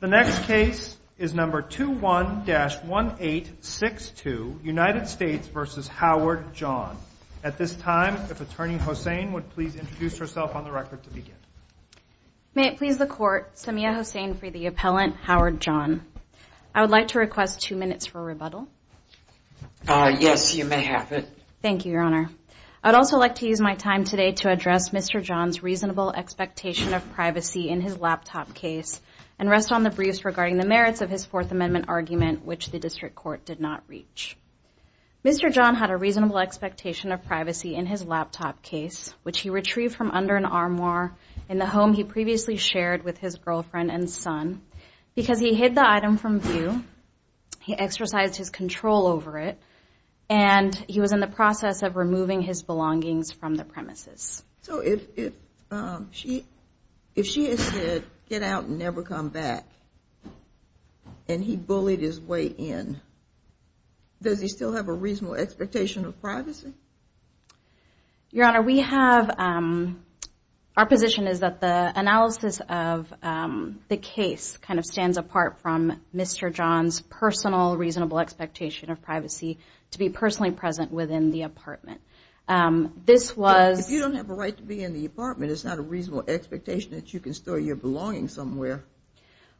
The next case is number 21-1862 United States v. Howard John. At this time, if Attorney Hossein would please introduce herself on the record to begin. May it please the Court, Samia Hossein for the appellant, Howard John. I would like to request two minutes for rebuttal. Yes, you may have it. Thank you, Your Honor. I would also like to use my time today to address Mr. John's reasonable expectation of privacy in his laptop case, and rest on the briefs regarding the merits of his Fourth Amendment argument, which the District Court did not reach. Mr. John had a reasonable expectation of privacy in his laptop case, which he retrieved from under an armoire in the home he previously shared with his girlfriend and son. Because he hid the item from view, he exercised his control over it, and he was in the process of removing his belongings from the premises. So if she had said, get out and never come back, and he bullied his way in, does he still have a reasonable expectation of privacy? Your Honor, our position is that the analysis of the case kind of stands apart from Mr. John's personal reasonable expectation of privacy to be personally present within the apartment. If you don't have a right to be in the apartment, it's not a reasonable expectation that you can store your belongings somewhere.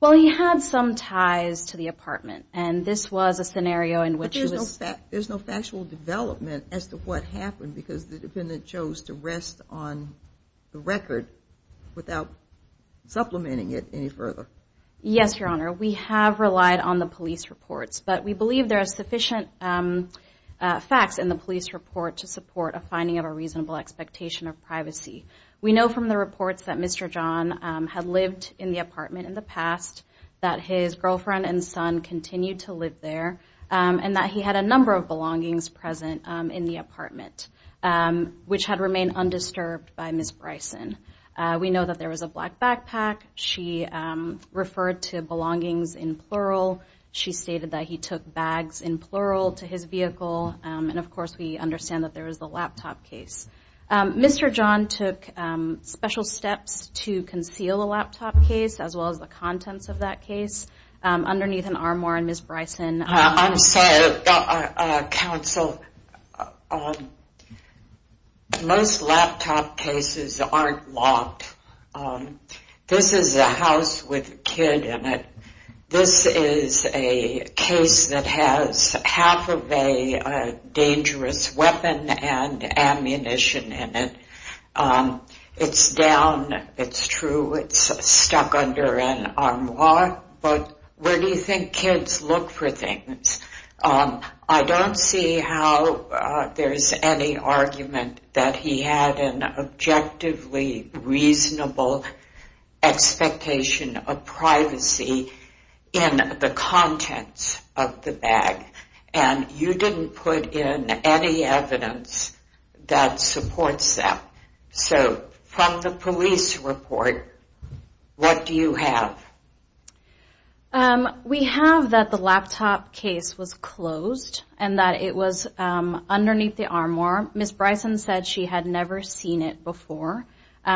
Well, he had some ties to the apartment, and this was a scenario in which he was... But there's no factual development as to what happened, because the defendant chose to rest on the record without supplementing it any further. Yes, Your Honor. We have relied on the police reports, but we believe there are sufficient facts in the police report to support a finding of a reasonable expectation of privacy. We know from the reports that Mr. John had lived in the apartment in the past, that his girlfriend and son continued to live there, and that he had a number of belongings present in the apartment, which had remained undisturbed by Ms. Bryson. We know that there was a black backpack. She referred to belongings in plural. She stated that he took bags in plural to his vehicle, and of course, we understand that there was the laptop case. Mr. John took special steps to conceal the laptop case, as well as the contents of that case, underneath an armoire, and Ms. Bryson... I'm sorry, counsel. Most laptop cases aren't locked. This is a house with a kid in it. This is a case that has half of a dangerous weapon and ammunition in it. It's down, it's true, it's stuck under an armoire, but where do you think kids look for things? I don't see how there's any argument that he had an objectively reasonable expectation of privacy in the contents of the bag, and you didn't put in any evidence that supports that. So, from the police report, what do you have? We have that the laptop case was closed, and that it was underneath the armoire. Ms. Bryson said she had never seen it before.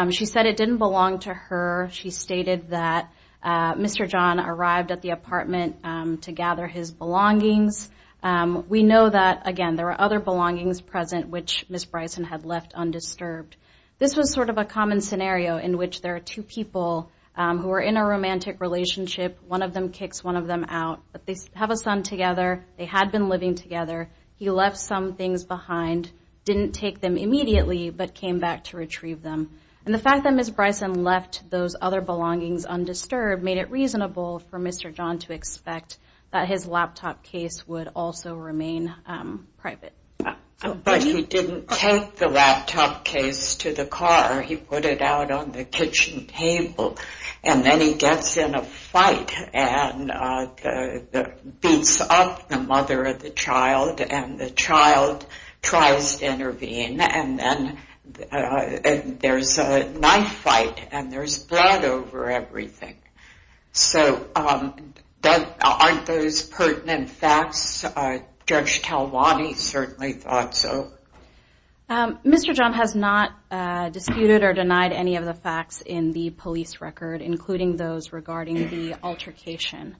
She said it didn't belong to her. She stated that Mr. John arrived at the apartment to gather his belongings. We know that, again, there were other belongings present, which Ms. Bryson had left undisturbed. This was sort of a common scenario in which there are two people who are in a romantic relationship. One of them kicks one of them out, but they have a son together. They had been living together. He left some things behind, didn't take them immediately, but came back to retrieve them. And the fact that Ms. Bryson left those other belongings undisturbed made it reasonable for Mr. John to expect that his laptop case would also remain private. But he didn't take the laptop case to the car. He put it out on the kitchen table. And then he gets in a fight and beats up the mother of the child, and the child tries to intervene. And then there's a knife fight, and there's blood over everything. So aren't those pertinent facts? Judge Talabani certainly thought so. Mr. John has not disputed or denied any of the facts in the police record, including those regarding the altercation.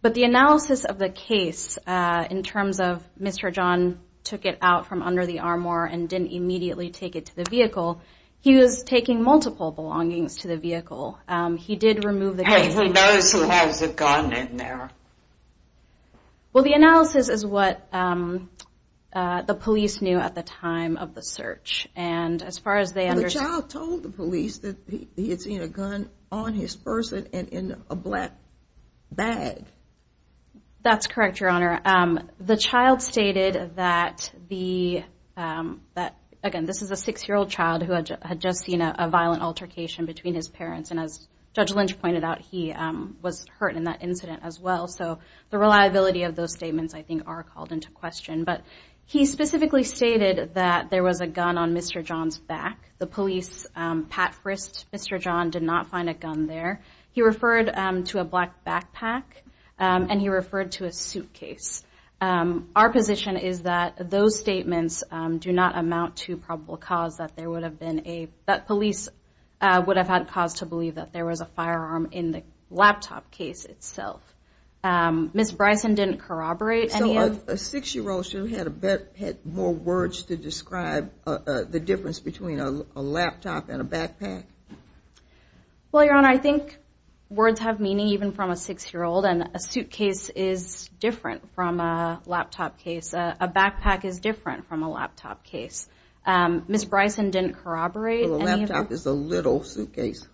But the analysis of the case in terms of Mr. John took it out from under the armor and didn't immediately take it to the vehicle, he was taking multiple belongings to the vehicle. He did remove the gun. Even those who have the gun in there? Well, the analysis is what the police knew at the time of the search. The child told the police that he had seen a gun on his person and in a black bag. That's correct, Your Honor. The child stated that, again, this is a six-year-old child who had just seen a violent altercation between his parents. And as Judge Lynch pointed out, he was hurt in that incident as well. So the reliability of those statements, I think, are called into question. But he specifically stated that there was a gun on Mr. John's back. The police, Pat Frist, Mr. John did not find a gun there. He referred to a black backpack and he referred to a suitcase. Our position is that those statements do not amount to probable cause that police would have had cause to believe that there was a firearm in the laptop case itself. Ms. Bryson didn't corroborate any of... So a six-year-old should have had more words to describe the difference between a laptop and a backpack? Well, Your Honor, I think words have meaning even from a six-year-old. And a suitcase is different from a laptop case. A backpack is different from a laptop case. Ms. Bryson didn't corroborate any of that. A laptop is a little suitcase.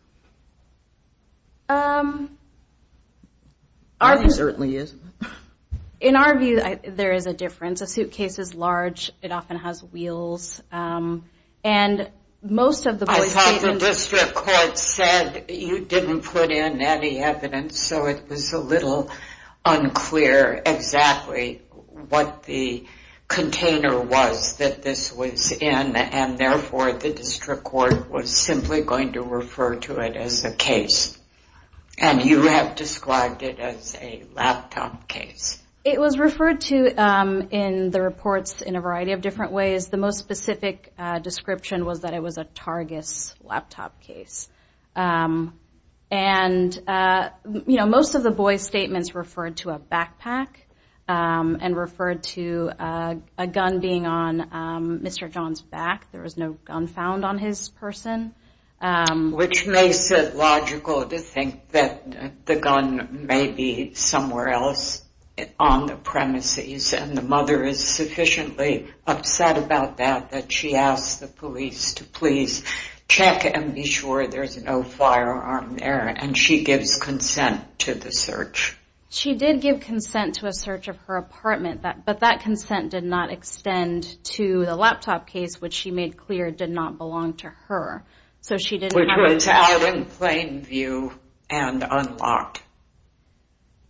It certainly is. In our view, there is a difference. A suitcase is large. It often has wheels. And most of the police... I thought the district court said you didn't put in any evidence. So it was a little unclear exactly what the container was that this was in. And therefore, the district court was simply going to refer to it as a case. And you have described it as a laptop case. It was referred to in the reports in a variety of different ways. The most specific description was that it was a Targus laptop case. And, you know, most of the boy's statements referred to a backpack and referred to a gun being on Mr. John's back. There was no gun found on his person. Which makes it logical to think that the gun may be somewhere else on the premises and the mother is sufficiently upset about that that she asked the police to please check and be sure there's no firearm there. And she gives consent to the search. She did give consent to a search of her apartment. But that consent did not extend to the laptop case, which she made clear did not belong to her. So she didn't have a... Which was out in plain view and unlocked.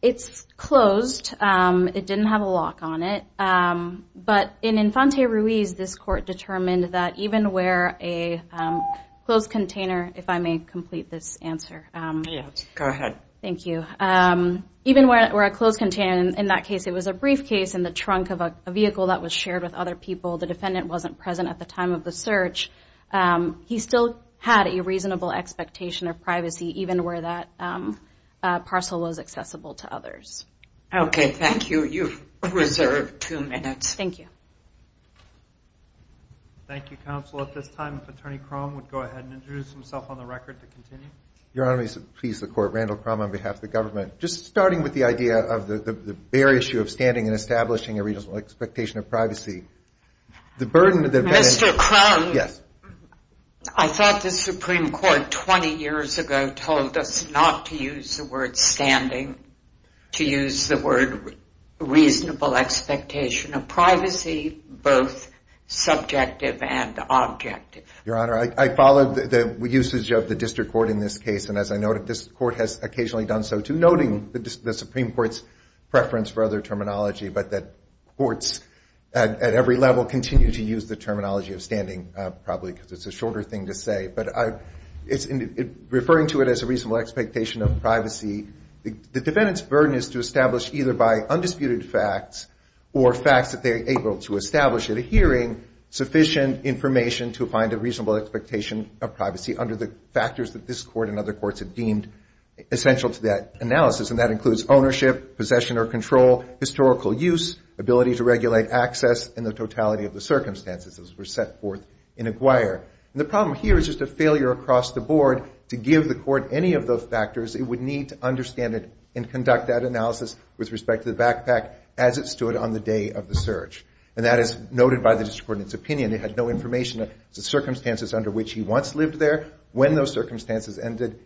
It's closed. It didn't have a lock on it. But in Infante Ruiz, this court determined that even where a closed container, if I may complete this answer. Yes, go ahead. Thank you. Even where a closed container, in that case it was a briefcase in the trunk of a vehicle that was shared with other people. The defendant wasn't present at the time of the search. He still had a reasonable expectation of privacy even where that parcel was accessible to others. Okay, thank you. You've reserved two minutes. Thank you. Thank you, counsel. At this time, Attorney Crum would go ahead and introduce himself on the record to continue. Your Honor, please, the Court. Randall Crum on behalf of the government. Just starting with the idea of the bare issue of standing and establishing a reasonable expectation of privacy. The burden of the... Mr. Crum. Yes. I thought the Supreme Court, 20 years ago, told us not to use the word standing, to use the word reasonable expectation of privacy, both subjective and objective. Your Honor, I followed the usage of the district court in this case, and as I noted, this court has occasionally done so too, noting the Supreme Court's preference for other terminology, but that courts at every level continue to use the terminology of standing probably because it's a shorter thing to say. But referring to it as a reasonable expectation of privacy, the defendant's burden is to establish either by undisputed facts or facts that they are able to establish at a hearing, sufficient information to find a reasonable expectation of privacy under the factors that this court and other courts have deemed essential to that analysis, and that includes ownership, possession or control, historical use, ability to regulate access, and the totality of the circumstances as were set forth in Aguirre. And the problem here is just a failure across the board to give the court any of those factors it would need to understand it and conduct that analysis with respect to the backpack as it stood on the day of the search. And that is noted by the district court in its opinion. It had no information of the circumstances under which he once lived there, when those circumstances ended,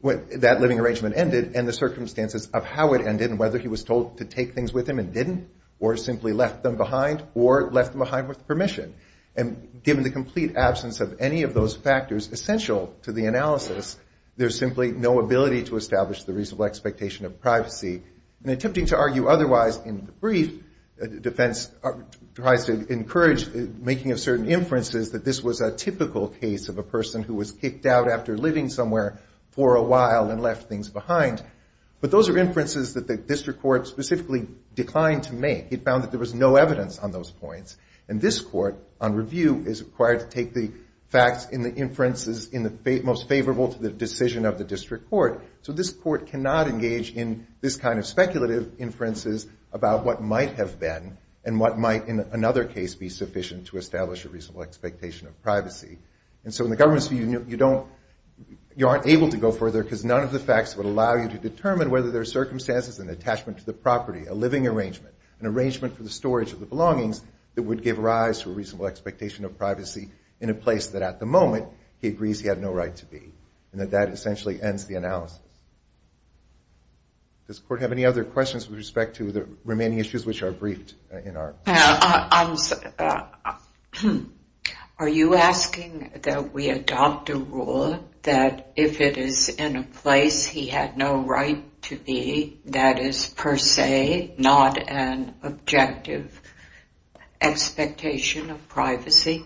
when that living arrangement ended, and the circumstances of how it ended and whether he was told to take things with him and didn't, or simply left them behind, or left them behind with permission. And given the complete absence of any of those factors essential to the analysis, there's simply no ability to establish the reasonable expectation of privacy. And attempting to argue otherwise in the brief, defense tries to encourage making of certain inferences that this was a typical case of a person who was kicked out after living somewhere for a while and left things behind. But those are inferences that the district court specifically declined to make. It found that there was no evidence on those points. And this court, on review, is required to take the facts in the inferences most favorable to the decision of the district court. So this court cannot engage in this kind of speculative inferences about what might have been and what might, in another case, be sufficient to establish a reasonable expectation of privacy. And so in the government's view, you aren't able to go further because none of the facts would allow you to determine whether there are circumstances in attachment to the property, a living arrangement, an arrangement for the storage of the belongings that would give rise to a reasonable expectation of privacy in a place that, at the moment, he agrees he had no right to be. And that that essentially ends the analysis. Does the court have any other questions with respect to the remaining issues which are briefed in our... Are you asking that we adopt a rule that if it is in a place he had no right to be that is per se not an objective expectation of privacy?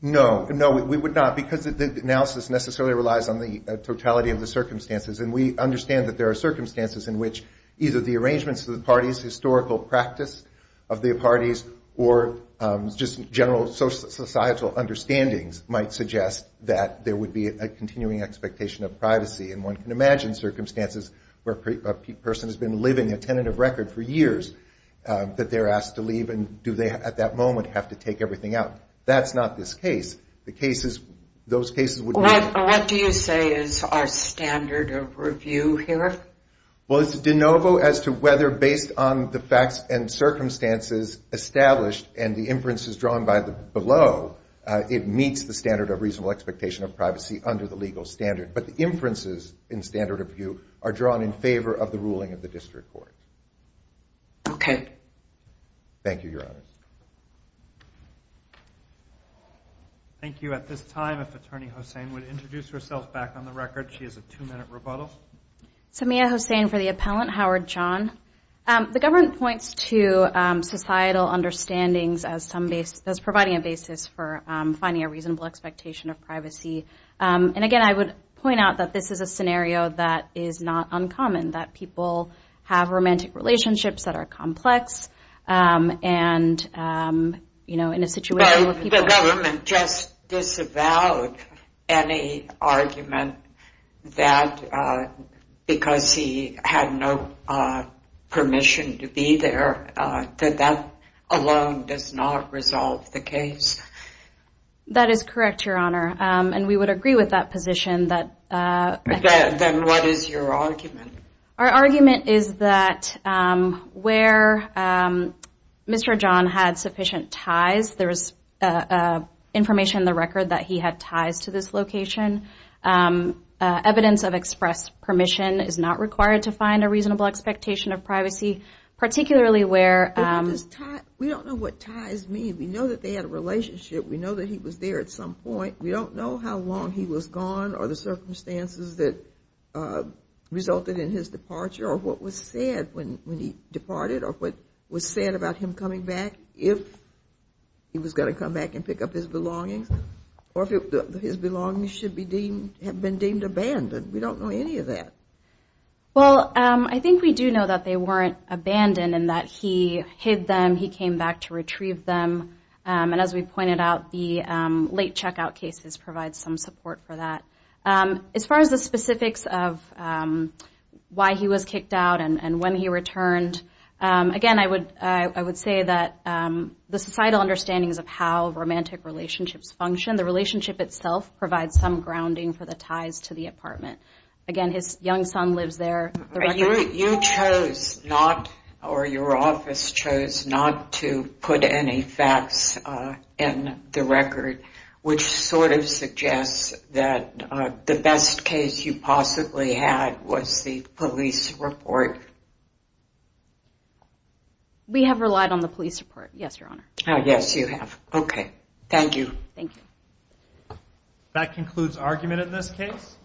No. No, we would not because the analysis necessarily relies on the totality of the circumstances. And we understand that there are circumstances in which either the arrangements of the parties, historical practice of the parties, or just general societal understandings might suggest that there would be a continuing expectation of privacy. And one can imagine circumstances where a person has been living a tentative record for years that they're asked to leave and do they, at that moment, have to take everything out. That's not this case. The cases, those cases would be... What do you say is our standard of review here? Well, it's de novo as to whether based on the facts and circumstances established and the inferences drawn below, it meets the standard of reasonable expectation of privacy under the legal standard. But the inferences in standard of view are drawn in favor of the ruling of the district court. Okay. Thank you, Your Honors. Thank you. At this time, if Attorney Hossein would introduce herself back on the record. She has a two-minute rebuttal. Samia Hossein for the appellant, Howard John. The government points to societal understandings as providing a basis for finding a reasonable expectation of privacy. And, again, I would point out that this is a scenario that is not uncommon, that people have romantic relationships that are complex and, you know, in a situation where people... Did the government just disavow any argument that because he had no permission to be there, that that alone does not resolve the case? That is correct, Your Honor, and we would agree with that position that... Then what is your argument? Our argument is that where Mr. John had sufficient ties, there is information in the record that he had ties to this location. Evidence of express permission is not required to find a reasonable expectation of privacy, particularly where... We don't know what ties mean. We know that they had a relationship. We know that he was there at some point. We don't know how long he was gone or the circumstances that resulted in his departure or what was said when he departed or what was said about him coming back, if he was going to come back and pick up his belongings, or if his belongings should have been deemed abandoned. We don't know any of that. Well, I think we do know that they weren't abandoned and that he hid them. He came back to retrieve them. And as we pointed out, the late checkout cases provide some support for that. As far as the specifics of why he was kicked out and when he returned, again, I would say that the societal understandings of how romantic relationships function, the relationship itself provides some grounding for the ties to the apartment. Again, his young son lives there. You chose not, or your office chose not to put any facts in the record, which sort of suggests that the best case you possibly had was the police report. We have relied on the police report, yes, Your Honor. Yes, you have. Okay. Thank you. Thank you. That concludes argument in this case.